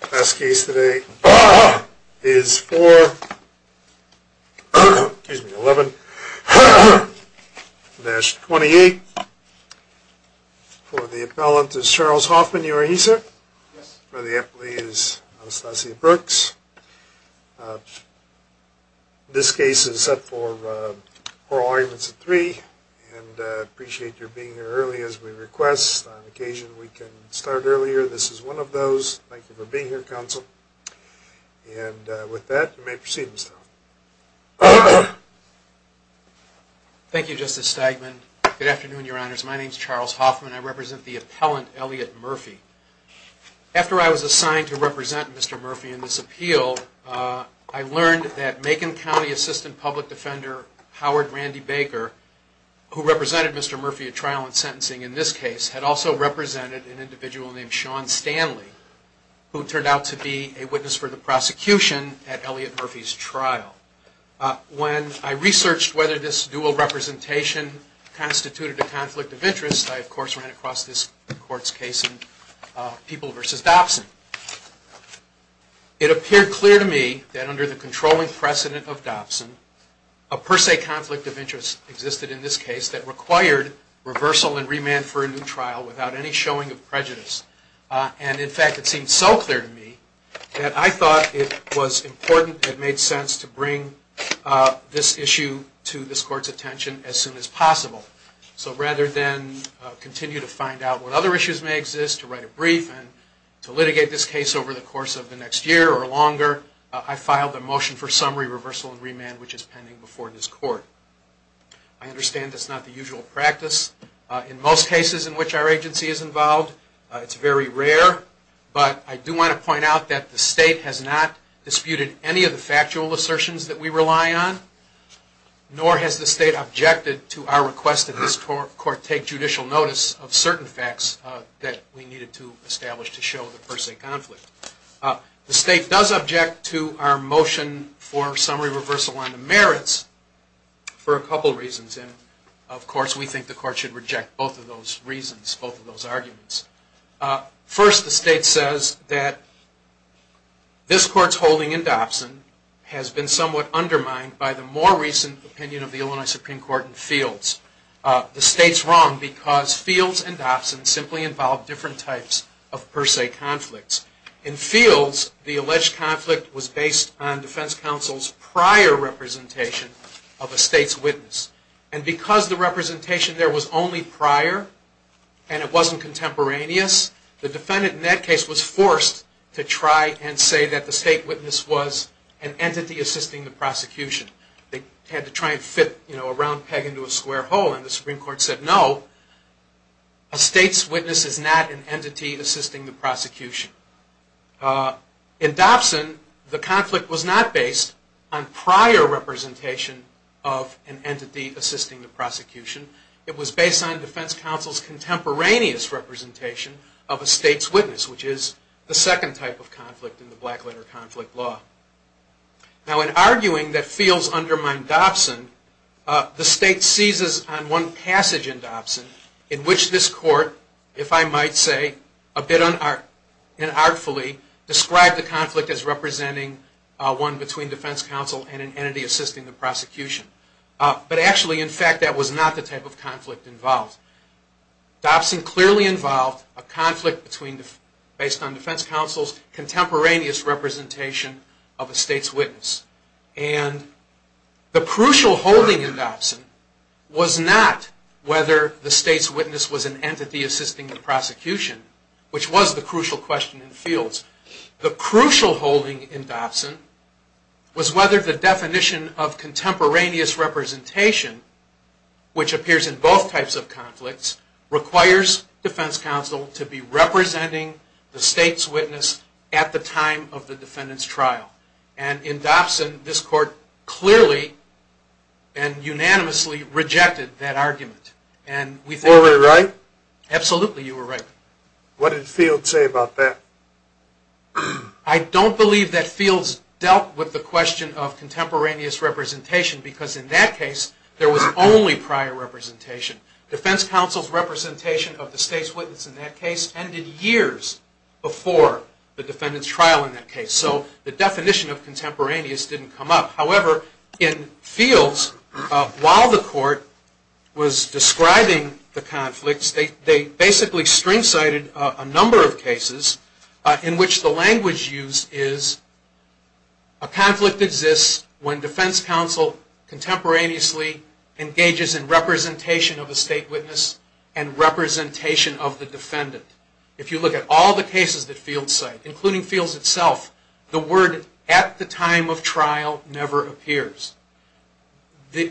The last case today is 4-11-28. For the appellant is Charles Hoffman. You are he, sir? Yes. For the appellee is Anastasia Brooks. This case is set for oral arguments at 3 and I appreciate your being here early as we request. On occasion we can start earlier. This is one of those. Thank you for being here, counsel. And with that, you may proceed, Mr. Hoffman. Thank you, Justice Stegman. Good afternoon, your honors. My name is Charles Hoffman. I represent the appellant, Elliot Murphy. After I was assigned to represent Mr. Murphy in this appeal, I learned that Macon County Assistant Public Defender Howard Randy Baker, who represented Mr. Murphy's trial and sentencing in this case, had also represented an individual named Sean Stanley, who turned out to be a witness for the prosecution at Elliot Murphy's trial. When I researched whether this dual representation constituted a conflict of interest, I of course ran across this court's case in People v. Dobson. It appeared clear to me that under the controlling precedent of Dobson, a per se conflict of interest existed in this case that required reversal and remand for a new trial without any showing of prejudice. And in fact, it seemed so clear to me that I thought it was important, it made sense to bring this issue to this court's attention as soon as possible. So rather than continue to find out what other issues may exist, to write a brief and to litigate this case over the course of the next year or longer, I filed a motion for summary, reversal and remand, which is pending before this court. I understand that's not the usual practice in most cases in which our agency is involved. It's very rare, but I do want to point out that the state has not disputed any of the factual assertions that we rely on, nor has the state objected to our request that this court take judicial notice of certain facts that we needed to establish to show the per se conflict. The state does object to our motion for summary, reversal and remand merits for a couple reasons. And of course, we think the court should reject both of those reasons, both of those arguments. First, the state says that this court's holding in Dobson has been somewhat undermined by the more recent opinion of the Illinois Supreme Court in Fields. The state's wrong because Fields and Dobson simply involve different types of per se conflicts. In Fields, the alleged conflict was based on defense counsel's prior representation of a state's witness. And because the representation there was only prior and it wasn't contemporaneous, the defendant in that case was forced to try and say that the state witness was an entity assisting the prosecution. They had to try and fit a round peg into a square hole and the Supreme Court said no, a state's witness is not an entity assisting the prosecution. In Dobson, the conflict was not based on prior representation of an entity assisting the prosecution. It was based on defense counsel's contemporaneous representation of a state's witness, which is the second type of conflict in the Blackletter Conflict Law. Now, in arguing that Fields undermined Dobson, the state seizes on one passage in Dobson in which this court, if I might say, a bit unartfully, described the conflict as representing one between defense counsel and an entity assisting the prosecution. But actually, in fact, that was not the type of conflict involved. Dobson clearly involved a conflict based on defense counsel's contemporaneous representation of a state's witness. And the crucial holding in Dobson was not whether the state's witness was an entity assisting the prosecution, which was the crucial question in Fields. The crucial holding in Dobson was whether the definition of contemporaneous representation, which appears in both types of conflicts, requires defense counsel to be representing the state's witness at the time of the defendant's trial. And in Dobson, this court clearly and unanimously rejected that argument. Were we right? Absolutely you were right. What did Fields say about that? I don't believe that Fields dealt with the question of contemporaneous representation because in that case there was only prior representation. Defense counsel's representation of the state's witness in that case ended years before the defendant's trial in that case. So the definition of contemporaneous didn't come up. However, in Fields, while the court was describing the conflicts, they basically string-cited a number of cases in which the language used is, a conflict exists when defense counsel contemporaneously engages in representation of a state witness and representation of the defendant. If you look at all the cases that Fields cited, including Fields itself, the word at the time of trial never appears.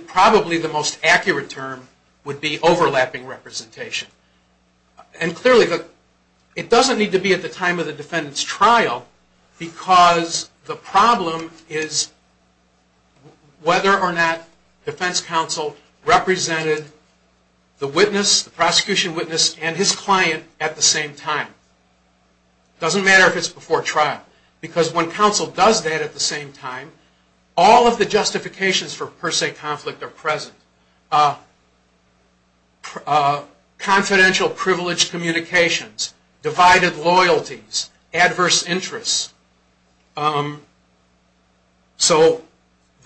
Probably the most accurate term would be overlapping representation. And clearly it doesn't need to be at the time of the defendant's trial because the problem is whether or not defense counsel represented the witness, the prosecution witness, and his client at the same time. It doesn't matter if it's before trial. Because when counsel does that at the same time, all of the justifications for per se conflict are present. Confidential privilege communications, divided loyalties, adverse interests. So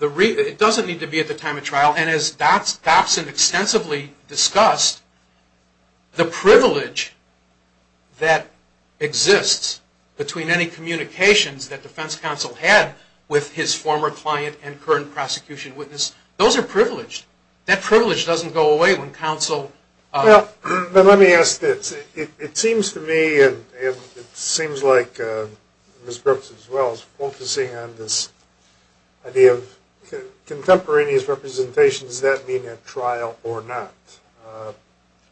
it doesn't need to be at the time of trial and as Dobson extensively discussed, the privilege that exists between any communications that defense counsel had with his former client and current prosecution witness, those are privileged. That privilege doesn't go away when counsel... Let me ask this. It seems to me, and it seems like Ms. Brooks as well, is focusing on this idea of contemporaneous representation. Does that mean at trial or not?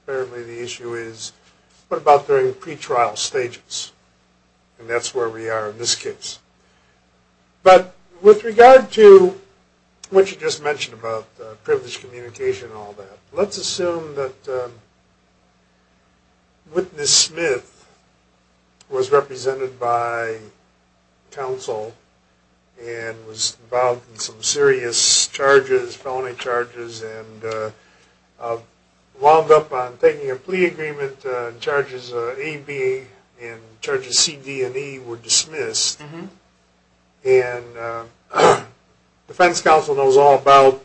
Apparently the issue is, what about during pre-trial stages? And that's where we are in this case. But with regard to what you just mentioned about privilege communication and all that, let's assume that witness Smith was represented by counsel and was involved in some serious charges, felony charges, and wound up on taking a plea agreement and charges AB and charges CD and E were dismissed. And defense counsel knows all about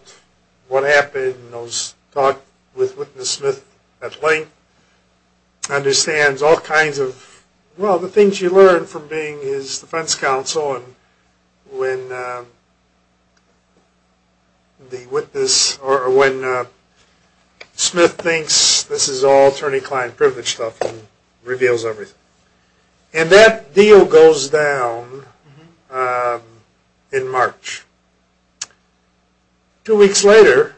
what happened, knows, talked with witness Smith at length, understands all kinds of, well, the things you learn from being his defense counsel and when the witness or when Smith thinks this is all attorney-client privilege stuff and reveals everything. And that deal goes down in March. Two weeks later,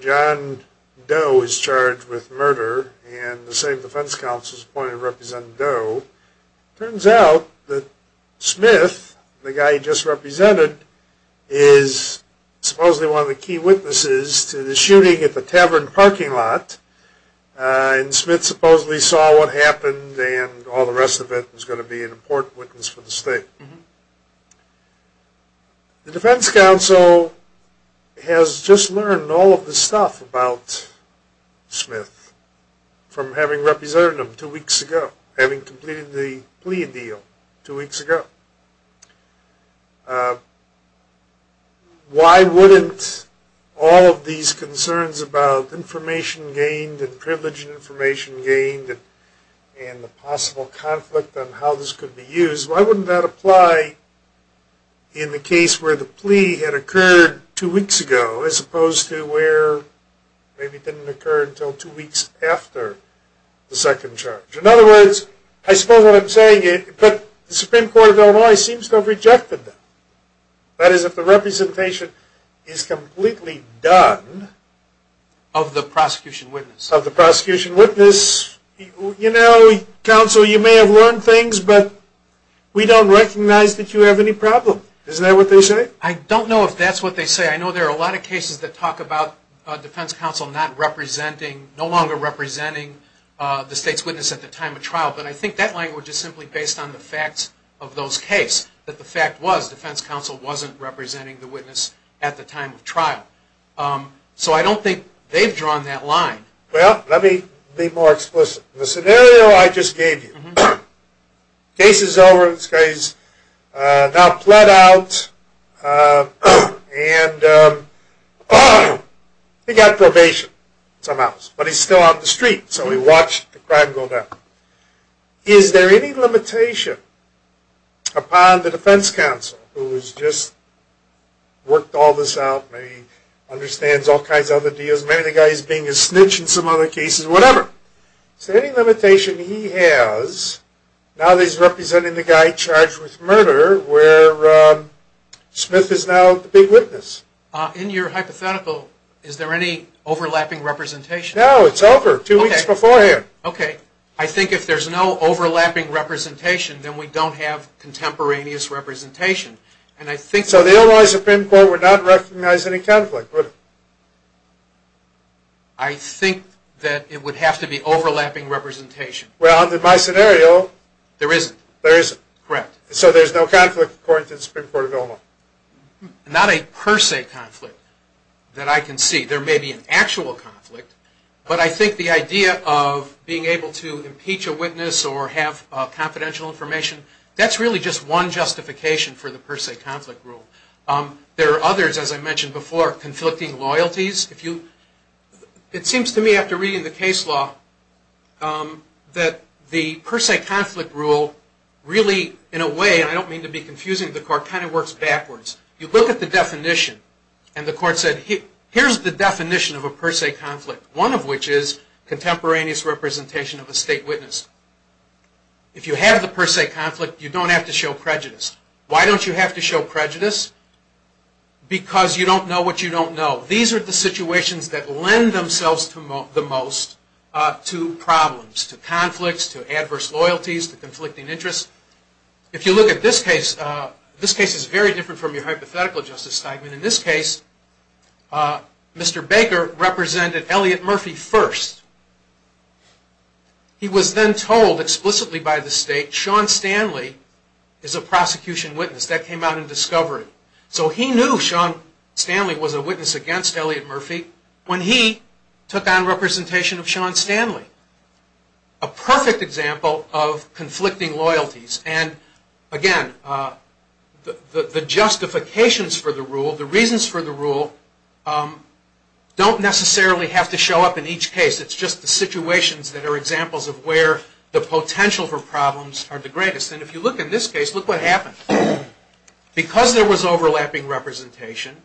John Doe is charged with murder and the same defense counsel is appointed to represent Doe. Turns out that Smith, the guy he just represented, is supposedly one of the key witnesses to the shooting at the Tavern parking lot. And Smith supposedly saw what happened and all the rest of it is going to be an important witness for the state. The defense counsel has just learned all of this stuff about Smith from having represented him two weeks ago, having completed the plea deal two weeks ago. Why wouldn't all of these concerns about information gained and privilege and information gained and the possible conflict on how this could be used, why wouldn't that apply in the case where the plea had occurred two weeks ago as opposed to where maybe it didn't occur until two weeks after the second charge? In other words, I suppose what I'm saying is that the Supreme Court of Illinois seems to have rejected that. That is, if the representation is completely done of the prosecution witness, you know, counsel, you may have learned things, but we don't recognize that you have any problem. Isn't that what they say? I don't know if that's what they say. I know there are a lot of cases that talk about defense counsel not representing, no longer representing the state's witness at the time of trial, but I think that language is simply based on the facts of those cases, that the fact was defense counsel wasn't representing the witness at the time of trial. So I don't think they've drawn that line. Well, let me be more explicit. In the scenario I just gave you, case is over, this guy's now pled out, and he got probation somehow, but he's still on the street, so he watched the crime go down. Is there any limitation upon the defense counsel, who has just worked all this out, understands all kinds of other deals, maybe the guy is being a snitch in some other cases, whatever. Is there any limitation he has, now that he's representing the guy charged with murder, where Smith is now the big witness? In your hypothetical, is there any overlapping representation? No, it's over, two weeks beforehand. Okay, I think if there's no overlapping representation, then we don't have contemporaneous representation. So the Illinois Supreme Court would not recognize any conflict, would it? I think that it would have to be overlapping representation. Well, in my scenario... There isn't. There isn't. Correct. So there's no conflict according to the Supreme Court of Illinois? Not a per se conflict that I can see. There may be an actual conflict, but I think the idea of being able to impeach a witness or have confidential information, that's really just one justification for the per se conflict rule. There are others, as I mentioned before, conflicting loyalties. It seems to me, after reading the case law, that the per se conflict rule really, in a way, and I don't mean to be confusing the court, kind of works backwards. You look at the definition, and the court said, here's the definition of a per se conflict, one of which is contemporaneous representation of a state witness. If you have the per se conflict, you don't have to show prejudice. Why don't you have to show prejudice? Because you don't know what you don't know. These are the situations that lend themselves the most to problems, to conflicts, to adverse loyalties, to conflicting interests. If you look at this case, this case is very different from your hypothetical justice statement. In this case, Mr. Baker represented Elliot Murphy first. He was then told explicitly by the state, Sean Stanley is a prosecution witness. That came out in discovery. He knew Sean Stanley was a witness against Elliot Murphy when he took on representation of Sean Stanley. A perfect example of conflicting loyalties. Again, the justifications for the rule, the reasons for the rule, don't necessarily have to show up in each case. It's just the situations that are examples of where the potential for problems are the greatest. If you look at this case, look what happened. Because there was overlapping representation,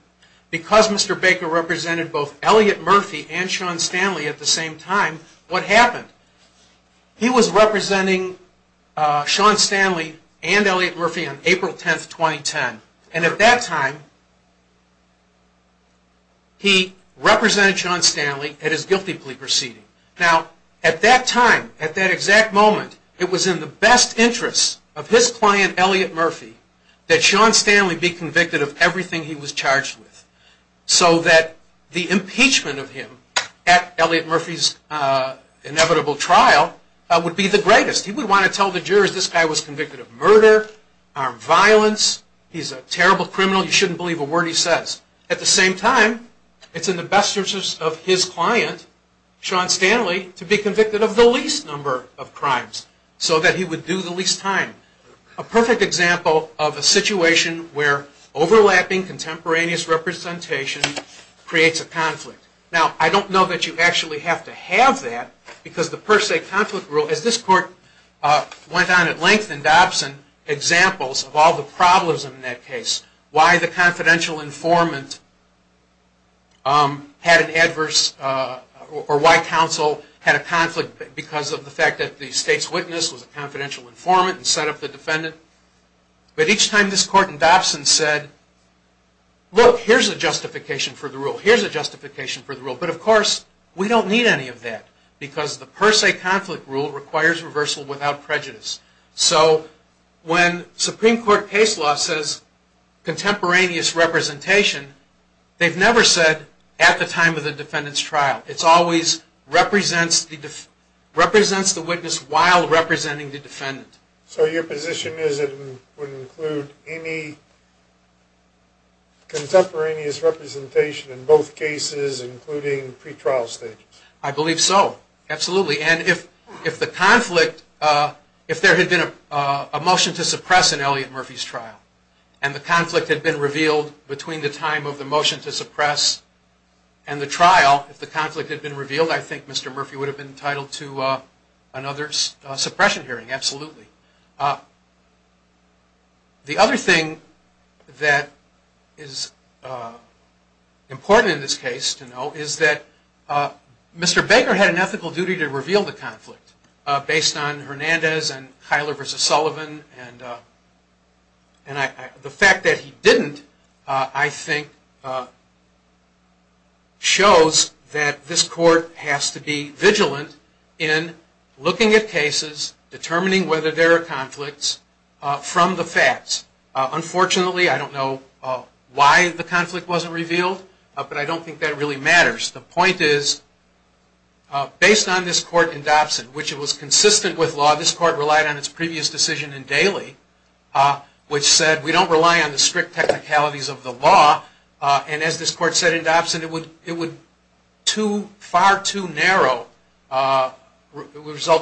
because Mr. Baker represented both Elliot Murphy and Sean Stanley at the same time, what happened? He was representing Sean Stanley and Elliot Murphy on April 10, 2010. And at that time, he represented Sean Stanley at his guilty plea proceeding. Now, at that time, at that exact moment, it was in the best interest of his client, Elliot Murphy, that Sean Stanley be convicted of everything he was charged with. So that the impeachment of him at Elliot Murphy's inevitable trial would be the greatest. He would want to tell the jurors this guy was convicted of murder, armed violence, he's a terrible criminal, you shouldn't believe a word he says. At the same time, it's in the best interest of his client, Sean Stanley, to be convicted of the least number of crimes, so that he would do the least time. A perfect example of a situation where overlapping contemporaneous representation creates a conflict. Now, I don't know that you actually have to have that, because the per se conflict rule, as this court went on at length in Dobson, examples of all the problems in that case. Why the confidential informant had an adverse, or why counsel had a conflict because of the fact that the state's witness was a confidential informant and set up the defendant. But each time this court in Dobson said, look, here's a justification for the rule, here's a justification for the rule. But of course, we don't need any of that, because the per se conflict rule requires reversal without prejudice. So when Supreme Court case law says contemporaneous representation, they've never said at the time of the defendant's trial. It always represents the witness while representing the defendant. So your position is it wouldn't include any contemporaneous representation in both cases, including pretrial stages? I believe so, absolutely. And if the conflict, if there had been a motion to suppress in Elliot Murphy's trial, and the conflict had been revealed between the time of the motion to suppress and the trial, if the conflict had been revealed, I think Mr. Murphy would have been entitled to another suppression hearing, absolutely. The other thing that is important in this case to know is that Mr. Baker had an ethical duty to reveal the conflict, based on Hernandez and Kyler v. Sullivan. And the fact that he didn't, I think, shows that this court has to be vigilant in looking at cases, determining whether there are conflicts, from the facts. Unfortunately, I don't know why the conflict wasn't revealed, but I don't think that really matters. The point is, based on this court in Dobson, which was consistent with law, this court relied on its previous decision in Daly, which said we don't rely on the strict technicalities of the law. And as this court said in Dobson, it would result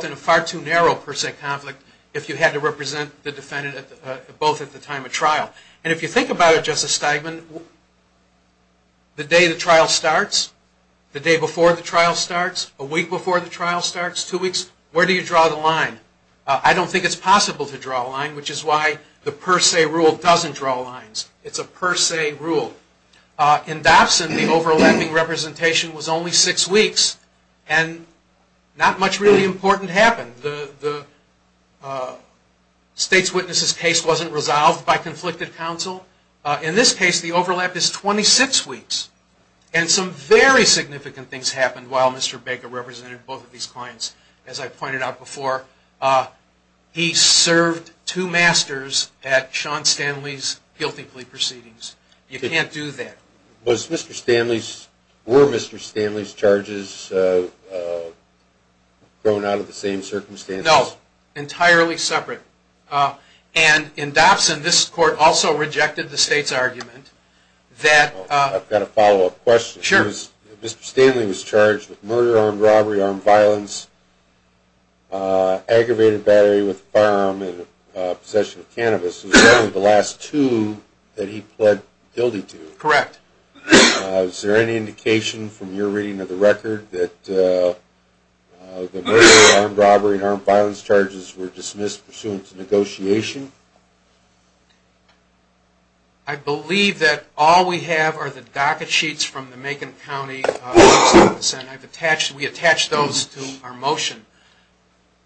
in a far too narrow per se conflict, if you had to represent the defendant both at the time of trial. And if you think about it, Justice Steigman, the day the trial starts, the day before the trial starts, a week before the trial starts, two weeks, where do you draw the line? I don't think it's possible to draw a line, which is why the per se rule doesn't draw lines. It's a per se rule. In Dobson, the overlapping representation was only six weeks, and not much really important happened. The state's witness's case wasn't resolved by conflicted counsel. In this case, the overlap is 26 weeks. And some very significant things happened while Mr. Baker represented both of these clients. As I pointed out before, he served two masters at Sean Stanley's guilty plea proceedings. You can't do that. Were Mr. Stanley's charges thrown out of the same circumstances? No, entirely separate. And in Dobson, this court also rejected the state's argument that... I've got a follow-up question. Sure. Mr. Stanley was charged with murder, armed robbery, armed violence, aggravated battery with a firearm, and possession of cannabis. It was only the last two that he pled guilty to. Correct. Is there any indication from your reading of the record that the murder, armed robbery, and armed violence charges were dismissed pursuant to negotiation? I believe that all we have are the docket sheets from the Macon County Justice Office, and we attached those to our motion.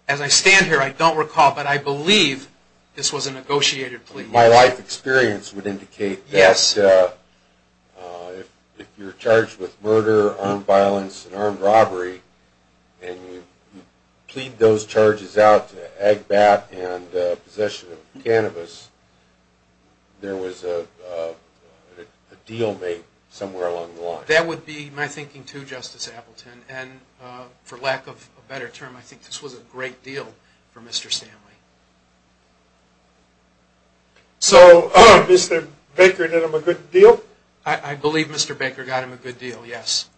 As I stand here, I don't recall, but I believe this was a negotiated plea. My life experience would indicate that if you're charged with murder, armed violence, and armed robbery, and you plead those charges out to agbat and possession of cannabis, there was a deal made somewhere along the line. That would be my thinking, too, Justice Appleton. And for lack of a better term, I think this was a great deal for Mr. Stanley. So Mr. Baker did him a good deal? I believe Mr. Baker got him a good deal, yes.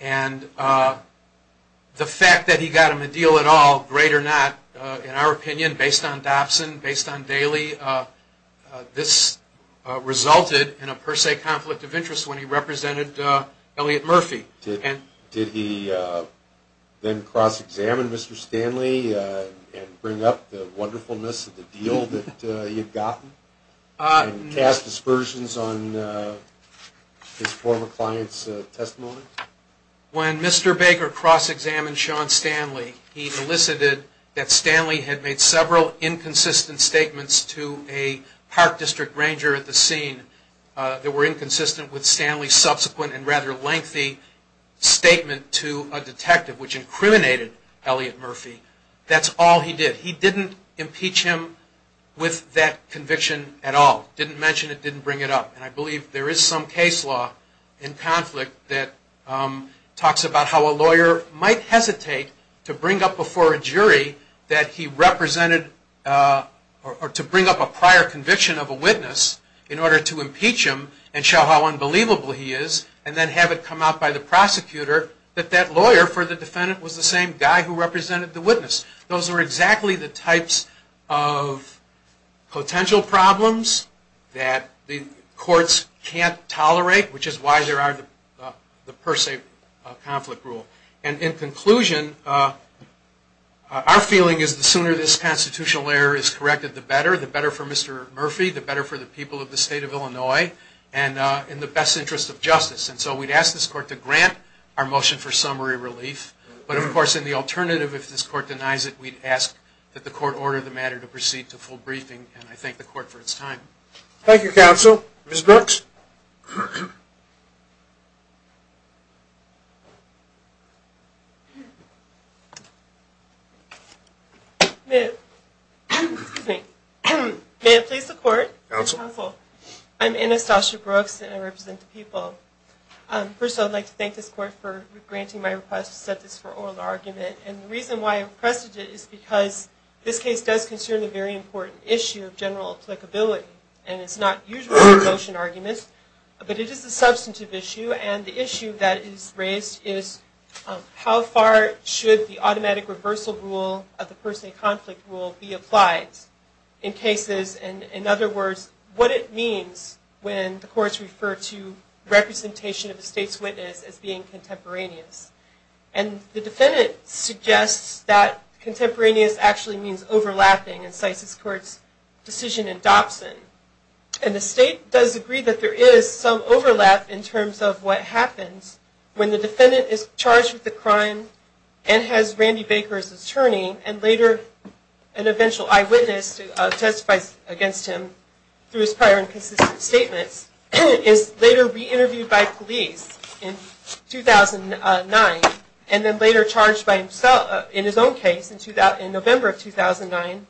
And the fact that he got him a deal at all, great or not, in our opinion, based on Dobson, based on Daley, this resulted in a per se conflict of interest when he represented Elliot Murphy. Did he then cross-examine Mr. Stanley and bring up the wonderfulness of the deal that he had gotten? And cast dispersions on his former client's testimony? When Mr. Baker cross-examined Sean Stanley, he elicited that Stanley had made several inconsistent statements to a park district ranger at the scene that were inconsistent with Stanley's subsequent and rather lengthy statement to a detective, which incriminated Elliot Murphy. That's all he did. He didn't impeach him with that conviction at all. Didn't mention it. Didn't bring it up. And I believe there is some case law in conflict that talks about how a lawyer might hesitate to bring up before a jury that he represented or to bring up a prior conviction of a witness in order to impeach him and show how unbelievable he is and then have it come out by the prosecutor that that lawyer for the defendant was the same guy who represented the witness. Those are exactly the types of potential problems that the courts can't tolerate, which is why there are the per se conflict rule. And in conclusion, our feeling is the sooner this constitutional error is corrected, the better. The better for Mr. Murphy, the better for the people of the state of Illinois, and in the best interest of justice. And so we'd ask this court to grant our motion for summary relief. But, of course, in the alternative, if this court denies it, we'd ask that the court order the matter to proceed to full briefing. And I thank the court for its time. Thank you, counsel. Ms. Brooks? May it please the court? Counsel? I'm Anastasia Brooks, and I represent the people. First, I'd like to thank this court for granting my request to set this for oral argument. And the reason why I requested it is because this case does concern a very important issue of general applicability. And it's not usually a motion argument, but it is a substantive issue. And the issue that is raised is how far should the automatic reversal rule of the per se conflict rule be applied in cases. And, in other words, what it means when the courts refer to representation of the state's witness as being contemporaneous. And the defendant suggests that contemporaneous actually means overlapping, and cites this court's decision in Dobson. And the state does agree that there is some overlap in terms of what happens when the defendant is charged with a crime and has Randy Baker as attorney and later an eventual eyewitness to testify against him through his prior and consistent statements, is later re-interviewed by police in 2009, and then later charged in his own case in November of 2009,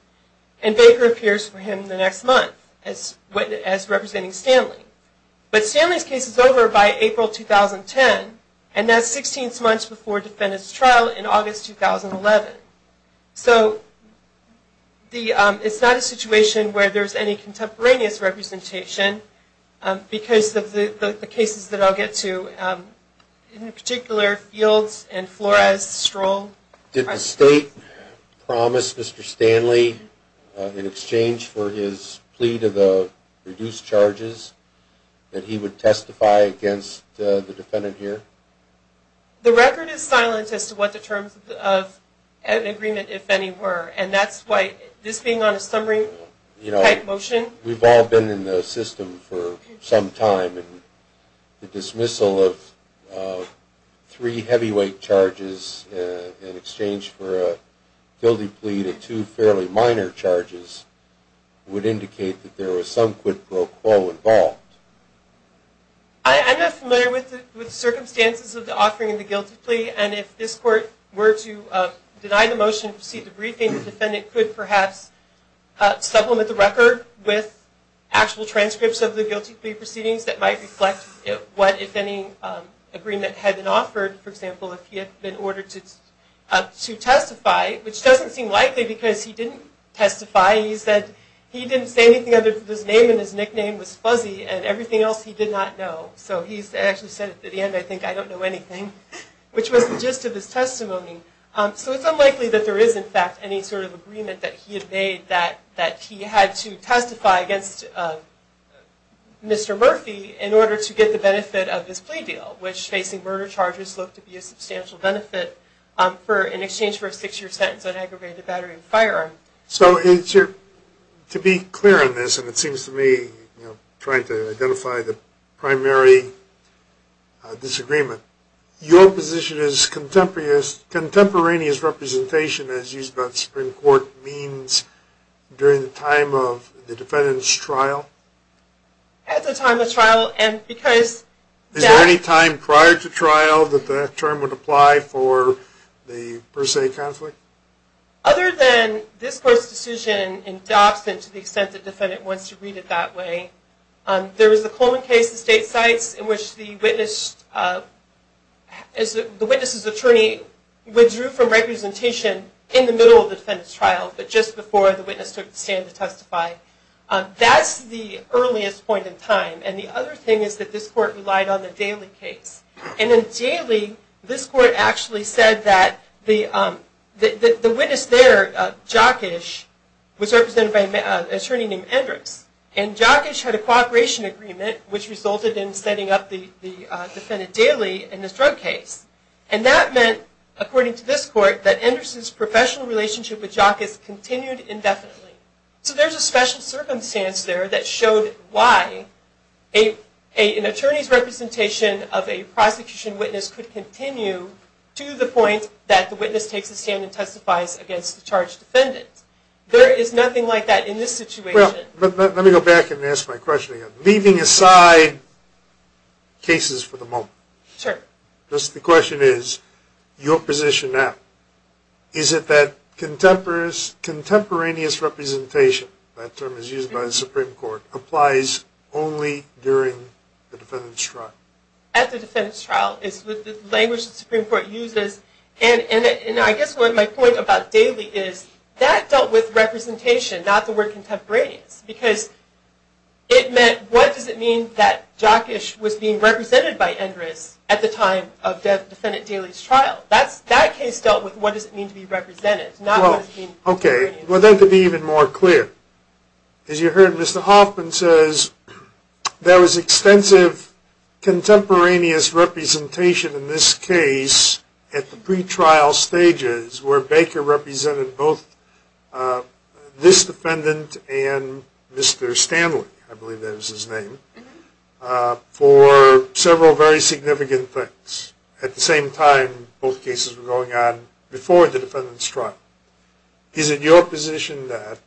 and Baker appears for him the next month as representing Stanley. But Stanley's case is over by April 2010, and that's 16 months before the defendant's trial in August 2011. So it's not a situation where there's any contemporaneous representation because of the cases that I'll get to, in particular Fields and Flores, Stroll. Did the state promise Mr. Stanley, in exchange for his plea to the reduced charges, that he would testify against the defendant here? The record is silent as to what the terms of agreement, if any, were, and that's why this being on a summary-type motion... You know, we've all been in the system for some time, and the dismissal of three heavyweight charges in exchange for a guilty plea to two fairly minor charges would indicate that there was some quid pro quo involved. I'm not familiar with the circumstances of the offering of the guilty plea, and if this court were to deny the motion to proceed with the briefing, the defendant could perhaps supplement the record with actual transcripts of the guilty plea proceedings that might reflect what, if any, agreement had been offered. For example, if he had been ordered to testify, which doesn't seem likely because he didn't testify. He said he didn't say anything other than his name and his nickname was Fuzzy, and everything else he did not know. So he actually said at the end, I think, I don't know anything, which was the gist of his testimony. So it's unlikely that there is, in fact, any sort of agreement that he had made that he had to testify against Mr. Murphy in order to get the benefit of his plea deal, which facing murder charges looked to be a substantial benefit in exchange for a six-year sentence on aggravated battery and firearm. So to be clear on this, and it seems to me, trying to identify the primary disagreement, your position is contemporaneous representation, as used by the Supreme Court, means during the time of the defendant's trial? At the time of trial, and because... Is there any time prior to trial that that term would apply for the per se conflict? Other than this court's decision in Dobson, to the extent the defendant wants to read it that way, there was the Coleman case at State Sites in which the witness's attorney withdrew from representation in the middle of the defendant's trial, but just before the witness took the stand to testify. That's the earliest point in time, and the other thing is that this court relied on the Daly case. And in Daly, this court actually said that the witness there, Jockish, was represented by an attorney named Endress. And Jockish had a cooperation agreement, which resulted in setting up the defendant Daly in this drug case. And that meant, according to this court, that Endress's professional relationship with Jockish continued indefinitely. So there's a special circumstance there that showed why an attorney's representation of a prosecution witness could continue to the point that the witness takes a stand and testifies against the charged defendant. There is nothing like that in this situation. Well, let me go back and ask my question again, leaving aside cases for the moment. Sure. Just the question is, your position now, is it that contemporaneous representation, that term is used by the Supreme Court, applies only during the defendant's trial? At the defendant's trial, it's the language the Supreme Court uses. And I guess my point about Daly is that dealt with representation, not the word contemporaneous, because it meant, what does it mean that Jockish was being represented by Endress at the time of defendant Daly's trial? That case dealt with what does it mean to be represented, not what does it mean to be contemporaneous. Okay. Well, then to be even more clear, as you heard Mr. Hoffman says, there was extensive contemporaneous representation in this case at the pre-trial stages where Baker represented both this defendant and Mr. Stanley, I believe that was his name, for several very significant things. At the same time, both cases were going on before the defendant's trial. Is it your position that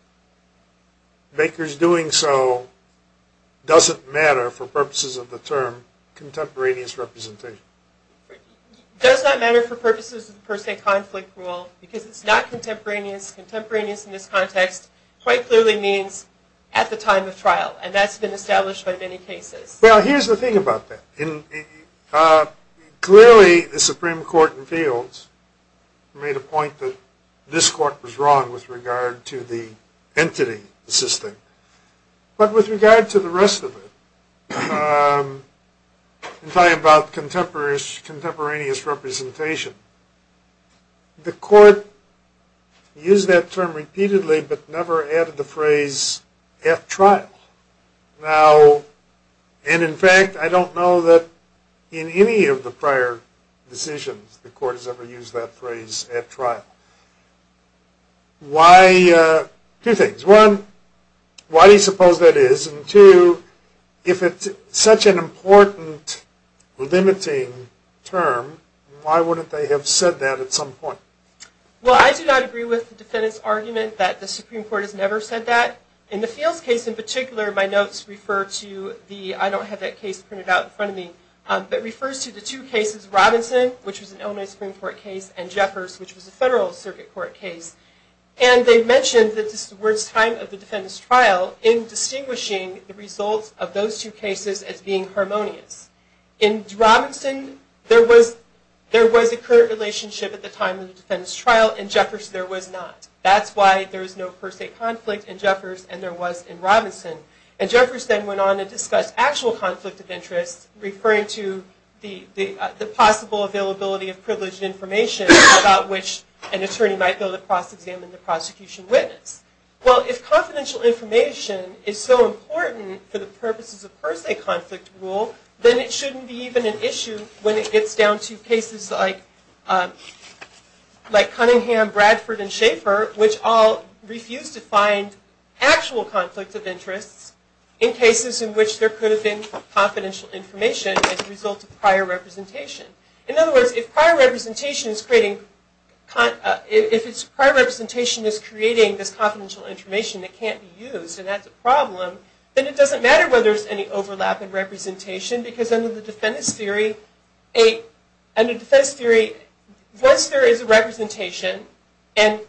Baker's doing so doesn't matter for purposes of the term contemporaneous representation? Does that matter for purposes of the per se conflict rule? Because it's not contemporaneous. Contemporaneous in this context quite clearly means at the time of trial. And that's been established by many cases. Well, here's the thing about that. Clearly, the Supreme Court in fields made a point that this court was wrong with regard to the entity system. But with regard to the rest of it, in talking about contemporaneous representation, the court used that term repeatedly but never added the phrase at trial. Now, and in fact, I don't know that in any of the prior decisions the court has ever used that phrase at trial. Two things. One, why do you suppose that is? And two, if it's such an important limiting term, why wouldn't they have said that at some point? Well, I do not agree with the defendant's argument that the Supreme Court has never said that. In the fields case in particular, my notes refer to the, I don't have that case printed out in front of me, but refers to the two cases, Robinson, which was an Illinois Supreme Court case, and Jeffers, which was a federal circuit court case. And they mentioned that this was the time of the defendant's trial in distinguishing the results of those two cases as being harmonious. In Robinson, there was a current relationship at the time of the defendant's trial. In Jeffers, there was not. That's why there was no per se conflict in Jeffers and there was in Robinson. And Jeffers then went on to discuss actual conflict of interest, referring to the possible availability of privileged information about which an attorney might be able to cross-examine the prosecution witness. Well, if confidential information is so important for the purposes of per se conflict rule, then it shouldn't be even an issue when it gets down to cases like Cunningham, Bradford, and Schaefer, which all refused to find actual conflict of interests in cases in which there could have been confidential information as a result of prior representation. In other words, if prior representation is creating this confidential information that can't be used, and that's a problem, then it doesn't matter whether there's any overlap in representation because under the defendant's theory, once there is a representation, and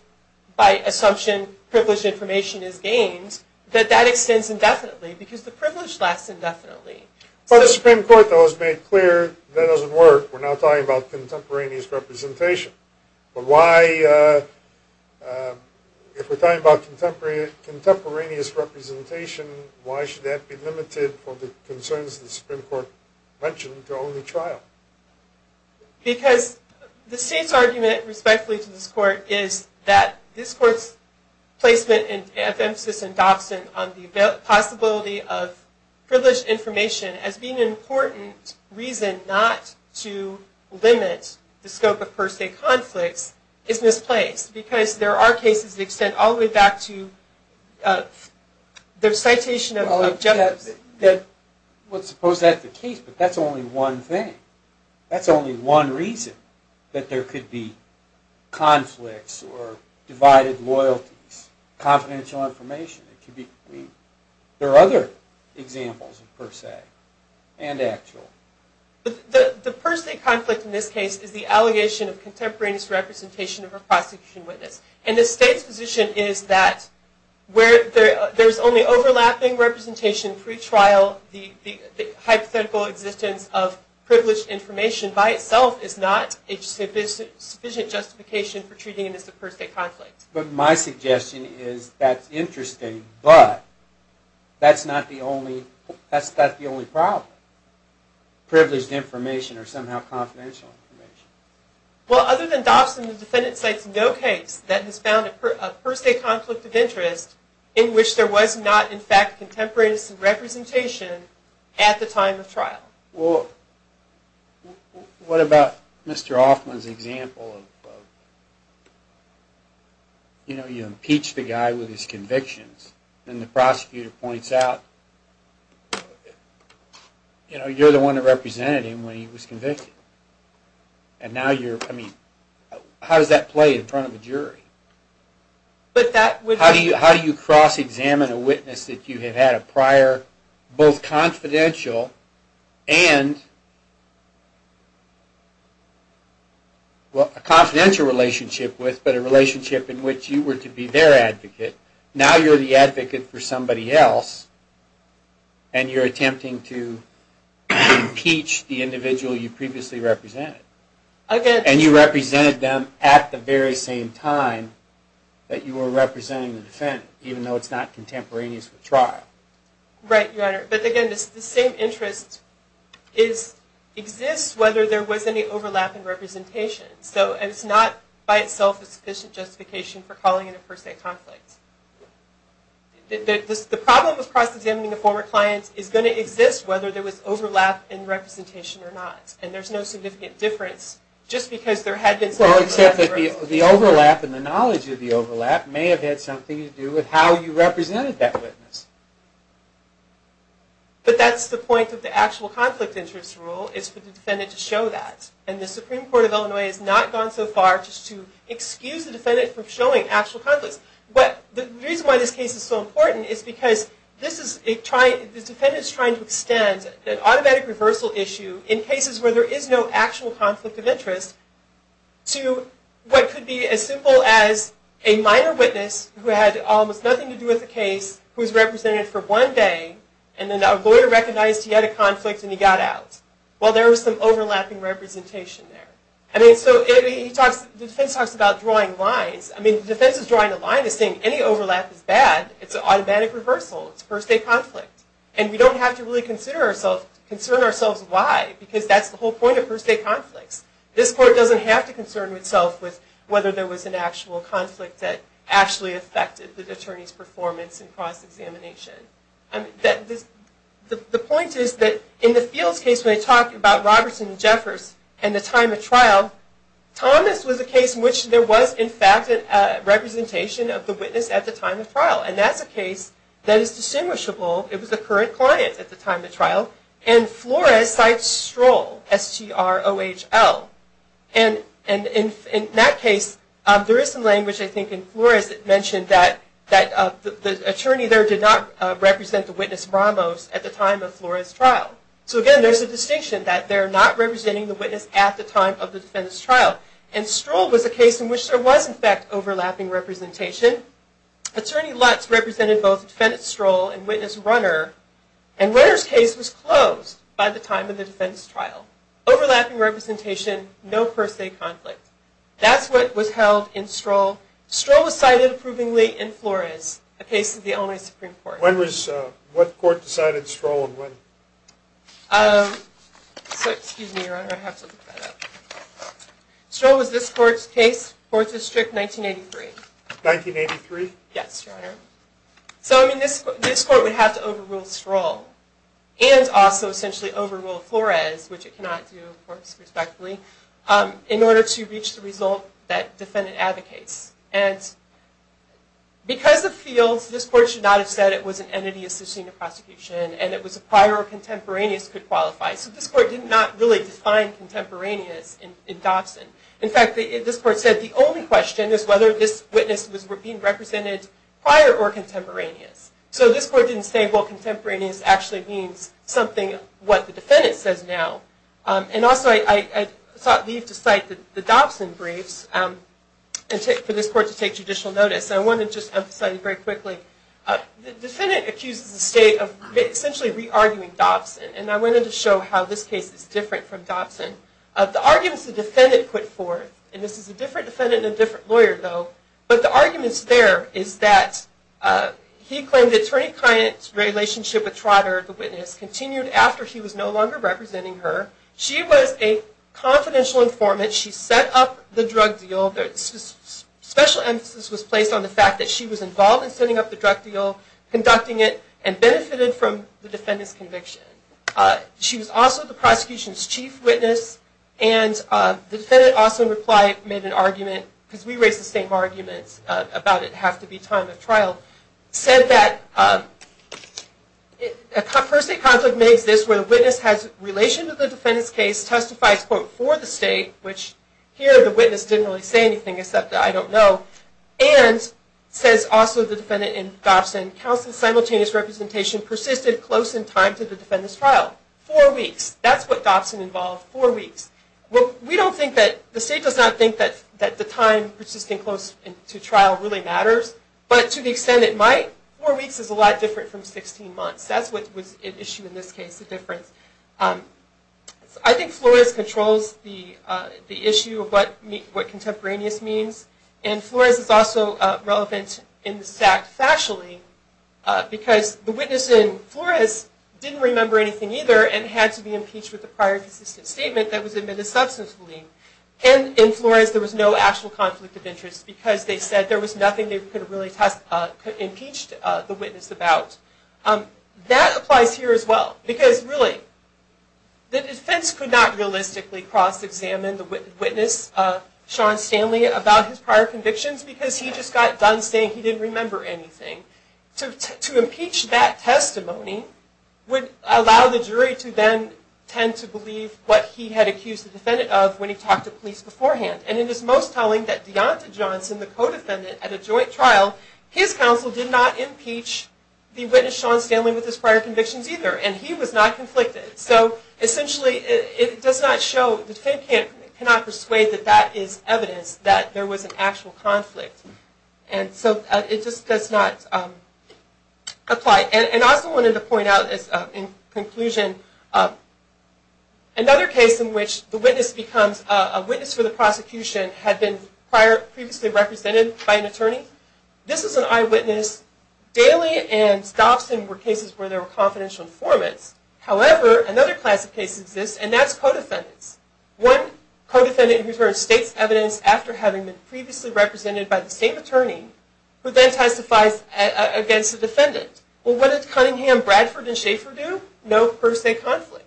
by assumption, privileged information is gained, that that extends indefinitely because the privilege lasts indefinitely. But the Supreme Court, though, has made clear that doesn't work. We're not talking about contemporaneous representation. But why, if we're talking about contemporaneous representation, why should that be limited from the concerns the Supreme Court mentioned to only trial? Because the State's argument, respectfully to this Court, is that this Court's placement of emphasis in Dobson on the possibility of privileged information as being an important reason not to limit the scope of per se conflicts is misplaced because there are cases that extend all the way back to their citation of objectives. Well, suppose that's the case, but that's only one thing. That's only one reason that there could be conflicts or divided loyalties, confidential information. There are other examples of per se and actual. The per se conflict in this case is the allegation of contemporaneous representation of a prosecution witness. And the State's position is that where there's only overlapping representation pre-trial, the hypothetical existence of privileged information by itself is not a sufficient justification for treating it as a per se conflict. But my suggestion is that's interesting, but that's not the only problem. Privileged information or somehow confidential information. Well, other than Dobson, the defendant cites no case that has found a per se conflict of interest in which there was not, in fact, contemporaneous representation at the time of trial. Well, what about Mr. Hoffman's example of, you know, you impeach the guy with his convictions, and the prosecutor points out, you know, you're the one that represented him when he was convicted. And now you're, I mean, how does that play in front of a jury? How do you cross-examine a witness that you have had a prior, both confidential and, well, a confidential relationship with, but a relationship in which you were to be their advocate. Now you're the advocate for somebody else, and you're attempting to impeach the individual you previously represented. And you represented them at the very same time that you were representing the defendant, even though it's not contemporaneous with trial. Right, Your Honor. But again, the same interest exists whether there was any overlap in representation. So it's not by itself a sufficient justification for calling it a per se conflict. The problem with cross-examining a former client is going to exist whether there was overlap in representation or not. And there's no significant difference just because there had been some overlap in representation. Well, except that the overlap and the knowledge of the overlap may have had something to do with how you represented that witness. But that's the point of the actual conflict interest rule is for the defendant to show that. And the Supreme Court of Illinois has not gone so far as to excuse the defendant from showing actual conflicts. But the reason why this case is so important is because this defendant is trying to extend an automatic reversal issue in cases where there is no actual conflict of interest to what could be as simple as a minor witness who had almost nothing to do with the case, who was represented for one day, and then a lawyer recognized he had a conflict and he got out. Well, there was some overlapping representation there. The defense talks about drawing lines. I mean, the defense is drawing a line and saying any overlap is bad. It's an automatic reversal. It's a per se conflict. And we don't have to really concern ourselves why because that's the whole point of per se conflicts. This court doesn't have to concern itself with whether there was an actual conflict that actually affected the attorney's performance in cross-examination. The point is that in the Fields case, when they talk about Robertson and Jeffers and the time of trial, Thomas was a case in which there was, in fact, a representation of the witness at the time of trial. And that's a case that is distinguishable. It was the current client at the time of trial. And Flores cites Stroll, S-T-R-O-H-L. And in that case, there is some language, I think, in Flores that mentioned that the attorney there did not represent the witness Ramos at the time of Flores' trial. So again, there's a distinction that they're not representing the witness at the time of the defendant's trial. And Stroll was a case in which there was, in fact, overlapping representation. Attorney Lutz represented both defendant Stroll and witness Runner. And Runner's case was closed by the time of the defendant's trial. Overlapping representation, no per se conflict. That's what was held in Stroll. Stroll was cited approvingly in Flores, a case of the Illinois Supreme Court. What court decided Stroll would win? Excuse me, Your Honor, I have to look that up. Stroll was this court's case, Fourth District, 1983. 1983? Yes, Your Honor. So this court would have to overrule Stroll and also essentially overrule Flores, which it cannot do, of course, respectfully, in order to reach the result that defendant advocates. And because of fields, this court should not have said it was an entity assisting the prosecution and it was a prior or contemporaneous could qualify. So this court did not really define contemporaneous in Dobson. In fact, this court said the only question is whether this witness was being represented prior or contemporaneous. So this court didn't say, well, contemporaneous actually means something, what the defendant says now. And also I thought it would be to cite the Dobson briefs for this court to take judicial notice. I want to just emphasize very quickly, the defendant accuses the state of essentially re-arguing Dobson. And I wanted to show how this case is different from Dobson. The arguments the defendant put forth, and this is a different defendant and a different lawyer, though, but the arguments there is that he claimed the attorney-client relationship with Trotter, the witness, continued after he was no longer representing her. She was a confidential informant. She set up the drug deal. Special emphasis was placed on the fact that she was involved in setting up the drug deal, conducting it, and benefited from the defendant's conviction. She was also the prosecution's chief witness. And the defendant also, in reply, made an argument, because we raised the same arguments about it have to be time of trial, said that a first-state conflict makes this where the witness has relation to the defendant's case, testifies, quote, for the state, which here the witness didn't really say anything except I don't know, and says also the defendant in Dobson, counsel's simultaneous representation persisted close in time to the defendant's trial. Four weeks. That's what Dobson involved, four weeks. We don't think that, the state does not think that the time persisting close to trial really matters, but to the extent it might, four weeks is a lot different from 16 months. That's what was at issue in this case, the difference. I think Flores controls the issue of what contemporaneous means, and Flores is also relevant in this fact factually, because the witness in Flores didn't remember anything either, and had to be impeached with a prior consistent statement that was admitted substancefully. And in Flores there was no actual conflict of interest, because they said there was nothing they could have really impeached the witness about. That applies here as well, because really the defense could not realistically cross-examine the witness, Sean Stanley, about his prior convictions, because he just got done saying he didn't remember anything. To impeach that testimony would allow the jury to then tend to believe what he had accused the defendant of when he talked to police beforehand. And it is most telling that Deonta Johnson, the co-defendant at a joint trial, his counsel did not impeach the witness, Sean Stanley, with his prior convictions either, and he was not conflicted. So essentially it does not show, the defendant cannot persuade that that is evidence, that there was an actual conflict. And so it just does not apply. And I also wanted to point out in conclusion, another case in which the witness becomes a witness for the prosecution had been previously represented by an attorney. This is an eyewitness. Daly and Stobson were cases where there were confidential informants. However, another class of cases exists, and that's co-defendants. One co-defendant returns state's evidence after having been previously represented by the same attorney, who then testifies against the defendant. Well, what did Cunningham, Bradford, and Schaefer do? No per se conflict.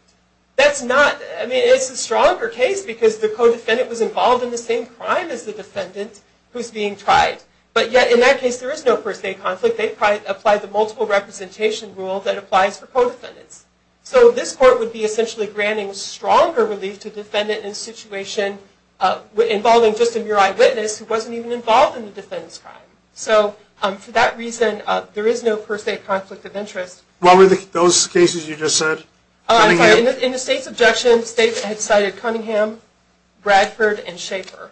That's not, I mean, it's a stronger case because the co-defendant was involved in the same crime as the defendant who's being tried. But yet in that case there is no per se conflict. They applied the multiple representation rule that applies for co-defendants. So this court would be essentially granting stronger relief to the defendant in a situation involving just a mere eyewitness who wasn't even involved in the defendant's crime. So for that reason, there is no per se conflict of interest. What were those cases you just said? In the state's objection, the state had cited Cunningham, Bradford, and Schaefer.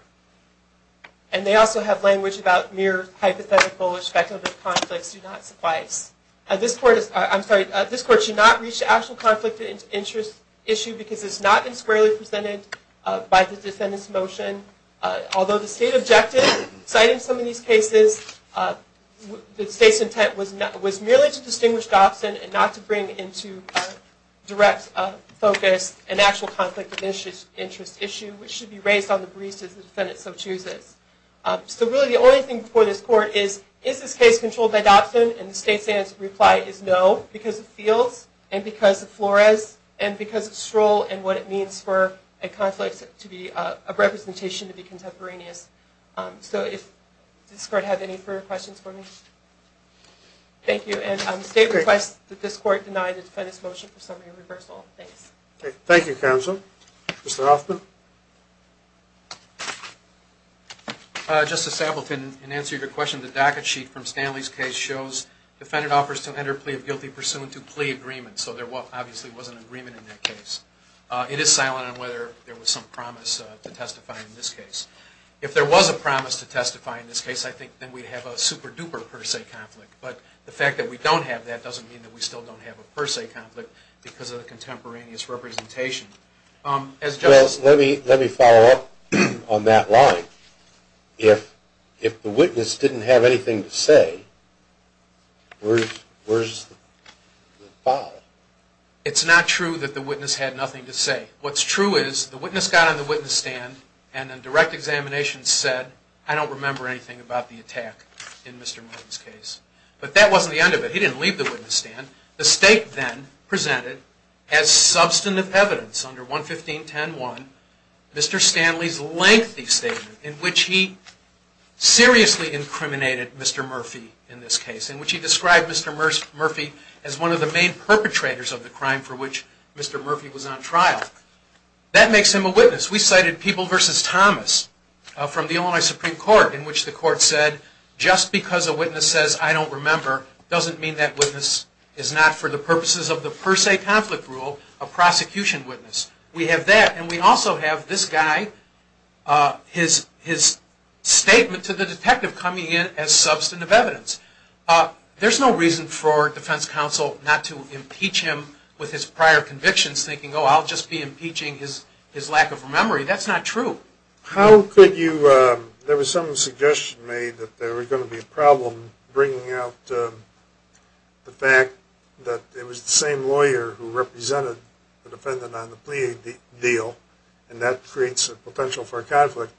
And they also have language about mere hypothetical or speculative conflicts do not suffice. This court should not reach the actual conflict of interest issue because it's not been squarely presented by the defendant's motion. Although the state objected, citing some of these cases, the state's intent was merely to distinguish Dobson and not to bring into direct focus an actual conflict of interest issue, which should be raised on the briefs as the defendant so chooses. So really the only thing for this court is, is this case controlled by Dobson? And the state's answer reply is no, because of Fields and because of Flores and because of Stroll and what it means for a conflict of representation to be contemporaneous. So does this court have any further questions for me? Thank you. And the state requests that this court deny the defendant's motion for summary reversal. Thanks. Thank you, counsel. Mr. Hoffman? Justice Appleton, in answer to your question, the docket sheet from Stanley's case shows defendant offers to enter a plea of guilty pursuant to plea agreement. So there obviously was an agreement in that case. It is silent on whether there was some promise to testify in this case. If there was a promise to testify in this case, I think then we'd have a super-duper per se conflict. But the fact that we don't have that doesn't mean that we still don't have a per se conflict because of the contemporaneous representation. Well, let me follow up on that line. If the witness didn't have anything to say, where's the file? It's not true that the witness had nothing to say. What's true is the witness got on the witness stand and then direct examination said, I don't remember anything about the attack in Mr. Martin's case. But that wasn't the end of it. He didn't leave the witness stand. The state then presented as substantive evidence under 115.10.1 Mr. Stanley's lengthy statement in which he seriously incriminated Mr. Murphy in this case, in which he described Mr. Murphy as one of the main perpetrators of the crime for which Mr. Murphy was on trial. That makes him a witness. We cited People v. Thomas from the Illinois Supreme Court in which the court said, just because a witness says, I don't remember, doesn't mean that witness is not for the purposes of the per se conflict rule a prosecution witness. We have that. And we also have this guy, his statement to the detective coming in as substantive evidence. There's no reason for defense counsel not to impeach him with his prior convictions, thinking, oh, I'll just be impeaching his lack of memory. That's not true. There was some suggestion made that there was going to be a problem bringing out the fact that it was the same lawyer who represented the defendant on the plea deal, and that creates a potential for a conflict.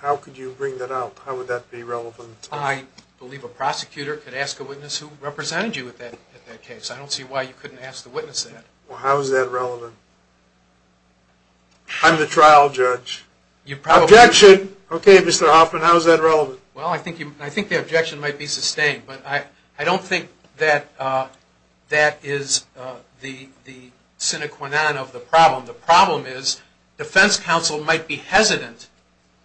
How could you bring that out? How would that be relevant? I believe a prosecutor could ask a witness who represented you at that case. I don't see why you couldn't ask the witness that. Well, how is that relevant? I'm the trial judge. Objection! Okay, Mr. Hoffman, how is that relevant? Well, I think the objection might be sustained. But I don't think that that is the sine qua non of the problem. The problem is defense counsel might be hesitant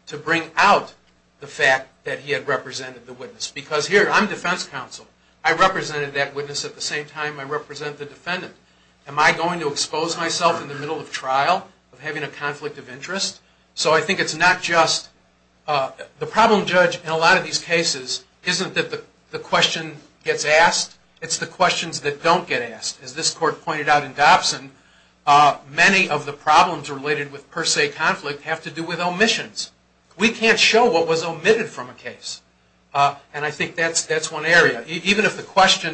to bring out the fact that he had represented the witness. Because here, I'm defense counsel. I represented that witness at the same time I represent the defendant. Am I going to expose myself in the middle of trial of having a conflict of interest? So I think it's not just the problem judge in a lot of these cases isn't that the question gets asked. It's the questions that don't get asked. As this court pointed out in Dobson, many of the problems related with per se conflict have to do with omissions. We can't show what was omitted from a case. And I think that's one area. Even if the question,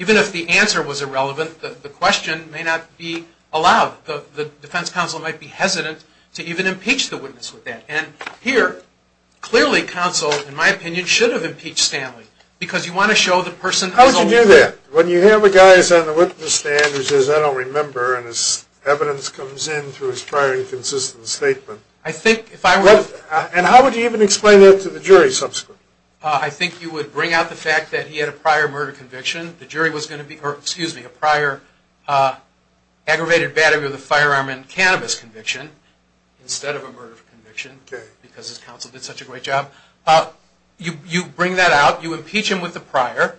even if the answer was irrelevant, the question may not be allowed. The defense counsel might be hesitant to even impeach the witness with that. And here, clearly counsel, in my opinion, should have impeached Stanley. Because you want to show the person is omitted. How would you do that? When you have a guy who's on the witness stand who says I don't remember and his evidence comes in through his prior inconsistent statement. I think if I were to... And how would you even explain that to the jury subsequently? I think you would bring out the fact that he had a prior murder conviction. The jury was going to be... Excuse me. A prior aggravated battery with a firearm and cannabis conviction instead of a murder conviction. Because his counsel did such a great job. You bring that out. You impeach him with the prior.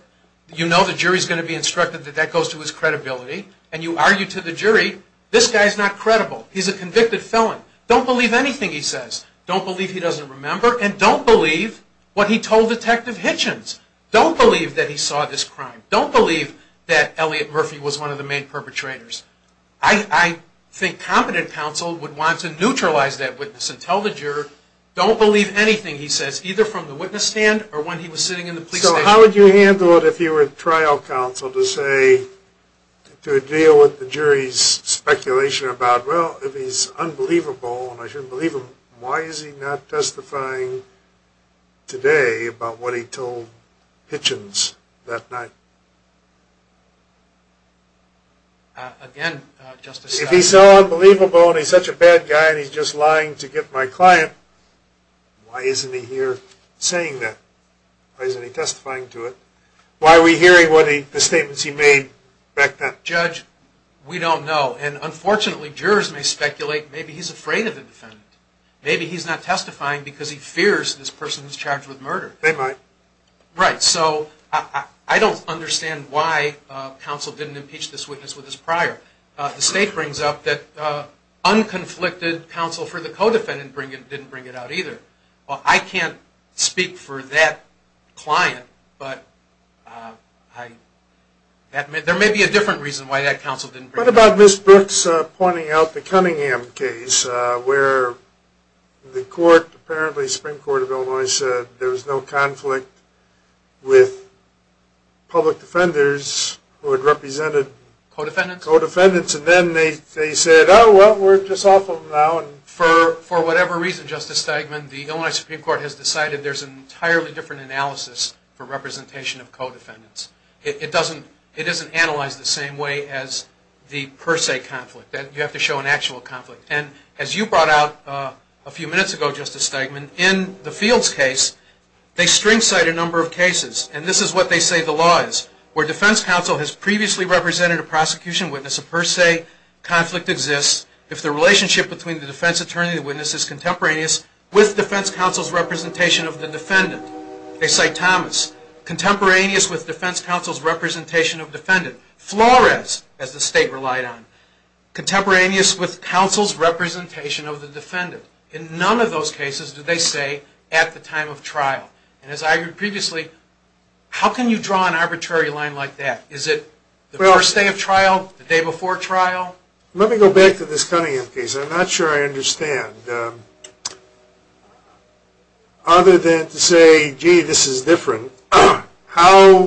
You know the jury's going to be instructed that that goes to his credibility. And you argue to the jury this guy's not credible. He's a convicted felon. Don't believe anything he says. Don't believe he doesn't remember. And don't believe what he told Detective Hitchens. Don't believe that he saw this crime. Don't believe that Elliot Murphy was one of the main perpetrators. I think competent counsel would want to neutralize that witness and tell the juror don't believe anything he says either from the witness stand or when he was sitting in the police station. So how would you handle it if you were trial counsel to say... to deal with the jury's speculation about well if he's unbelievable and I shouldn't believe him, why is he not testifying today about what he told Hitchens that night? Again, Justice... If he's so unbelievable and he's such a bad guy and he's just lying to get my client, why isn't he here saying that? Why isn't he testifying to it? Why are we hearing the statements he made back then? Judge, we don't know. And unfortunately jurors may speculate maybe he's afraid of the defendant. Maybe he's not testifying because he fears this person who's charged with murder. They might. Right. So I don't understand why counsel didn't impeach this witness with his prior. The state brings up that unconflicted counsel for the co-defendant didn't bring it out either. Well, I can't speak for that client, What about Ms. Brooks pointing out the Cunningham case where the court, apparently Supreme Court of Illinois, said there was no conflict with public defenders who had represented co-defendants and then they said, oh, well, we're just off of them now. For whatever reason, Justice Stegman, the Illinois Supreme Court has decided there's an entirely different analysis for representation of co-defendants. It doesn't analyze the same way as the per se conflict. You have to show an actual conflict. And as you brought out a few minutes ago, Justice Stegman, in the Fields case, they string cite a number of cases, and this is what they say the law is, where defense counsel has previously represented a prosecution witness, a per se conflict exists, if the relationship between the defense attorney and the witness is contemporaneous with defense counsel's representation of the defendant. They cite Thomas. Contemporaneous with defense counsel's representation of defendant. Flores, as the state relied on. Contemporaneous with counsel's representation of the defendant. In none of those cases do they say at the time of trial. And as I heard previously, how can you draw an arbitrary line like that? Is it the first day of trial, the day before trial? Let me go back to this Cunningham case. I'm not sure I understand. And other than to say, gee, this is different, how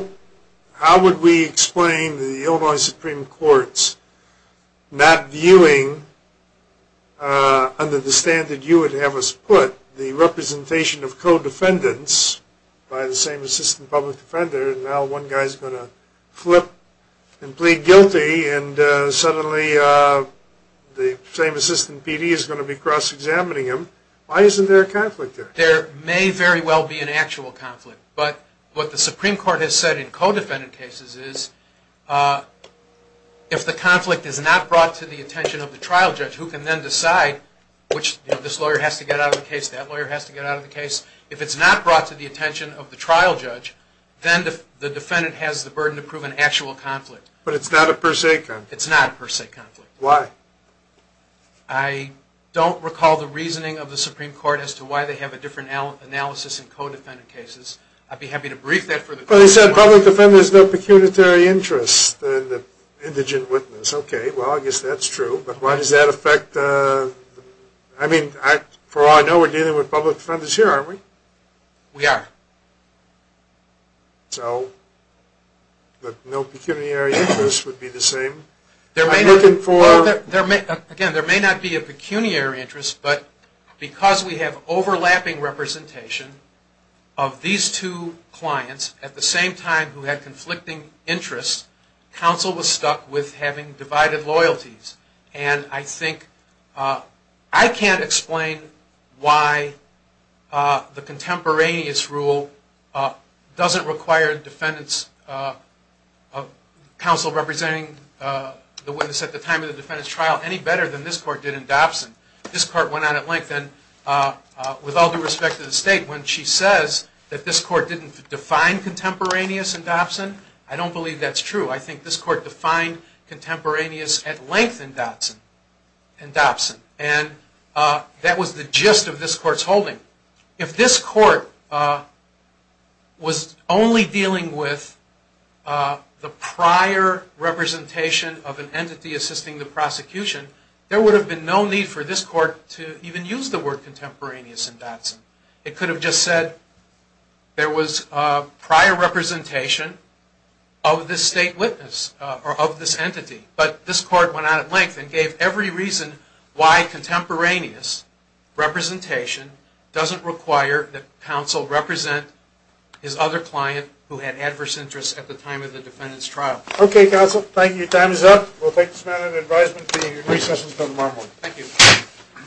would we explain the Illinois Supreme Court's not viewing, under the standard you would have us put, the representation of co-defendants by the same assistant public defender, and now one guy's going to flip and plead guilty, and suddenly the same assistant PD is going to be cross-examining him. Why isn't there a conflict there? There may very well be an actual conflict. But what the Supreme Court has said in co-defendant cases is, if the conflict is not brought to the attention of the trial judge, who can then decide which this lawyer has to get out of the case, that lawyer has to get out of the case. If it's not brought to the attention of the trial judge, then the defendant has the burden to prove an actual conflict. But it's not a per se conflict? It's not a per se conflict. Why? I don't recall the reasoning of the Supreme Court as to why they have a different analysis in co-defendant cases. I'd be happy to brief that for the court. But they said public defenders have no pecuniary interest in the indigent witness. Okay, well, I guess that's true. But why does that affect, I mean, for all I know, we're dealing with public defenders here, aren't we? We are. So, that no pecuniary interest would be the same? Again, there may not be a pecuniary interest, but because we have overlapping representation of these two clients at the same time who had conflicting interests, counsel was stuck with having divided loyalties. And I think I can't explain why the contemporaneous rule doesn't require counsel representing the witness at the time of the defendant's trial any better than this court did in Dobson. This court went on at length, and with all due respect to the state, when she says that this court didn't define contemporaneous in Dobson, I don't believe that's true. I think this court defined contemporaneous at length in Dobson. And that was the gist of this court's holding. If this court was only dealing with the prior representation of an entity assisting the prosecution, there would have been no need for this court to even use the word contemporaneous in Dobson. It could have just said there was prior representation of this state witness, or of this entity. But this court went on at length and gave every reason why contemporaneous representation doesn't require that counsel represent his other client who had adverse interests at the time of the defendant's trial. Okay, counsel. Thank you. Time is up. We'll take this matter into advisement at the recess until tomorrow morning. Thank you.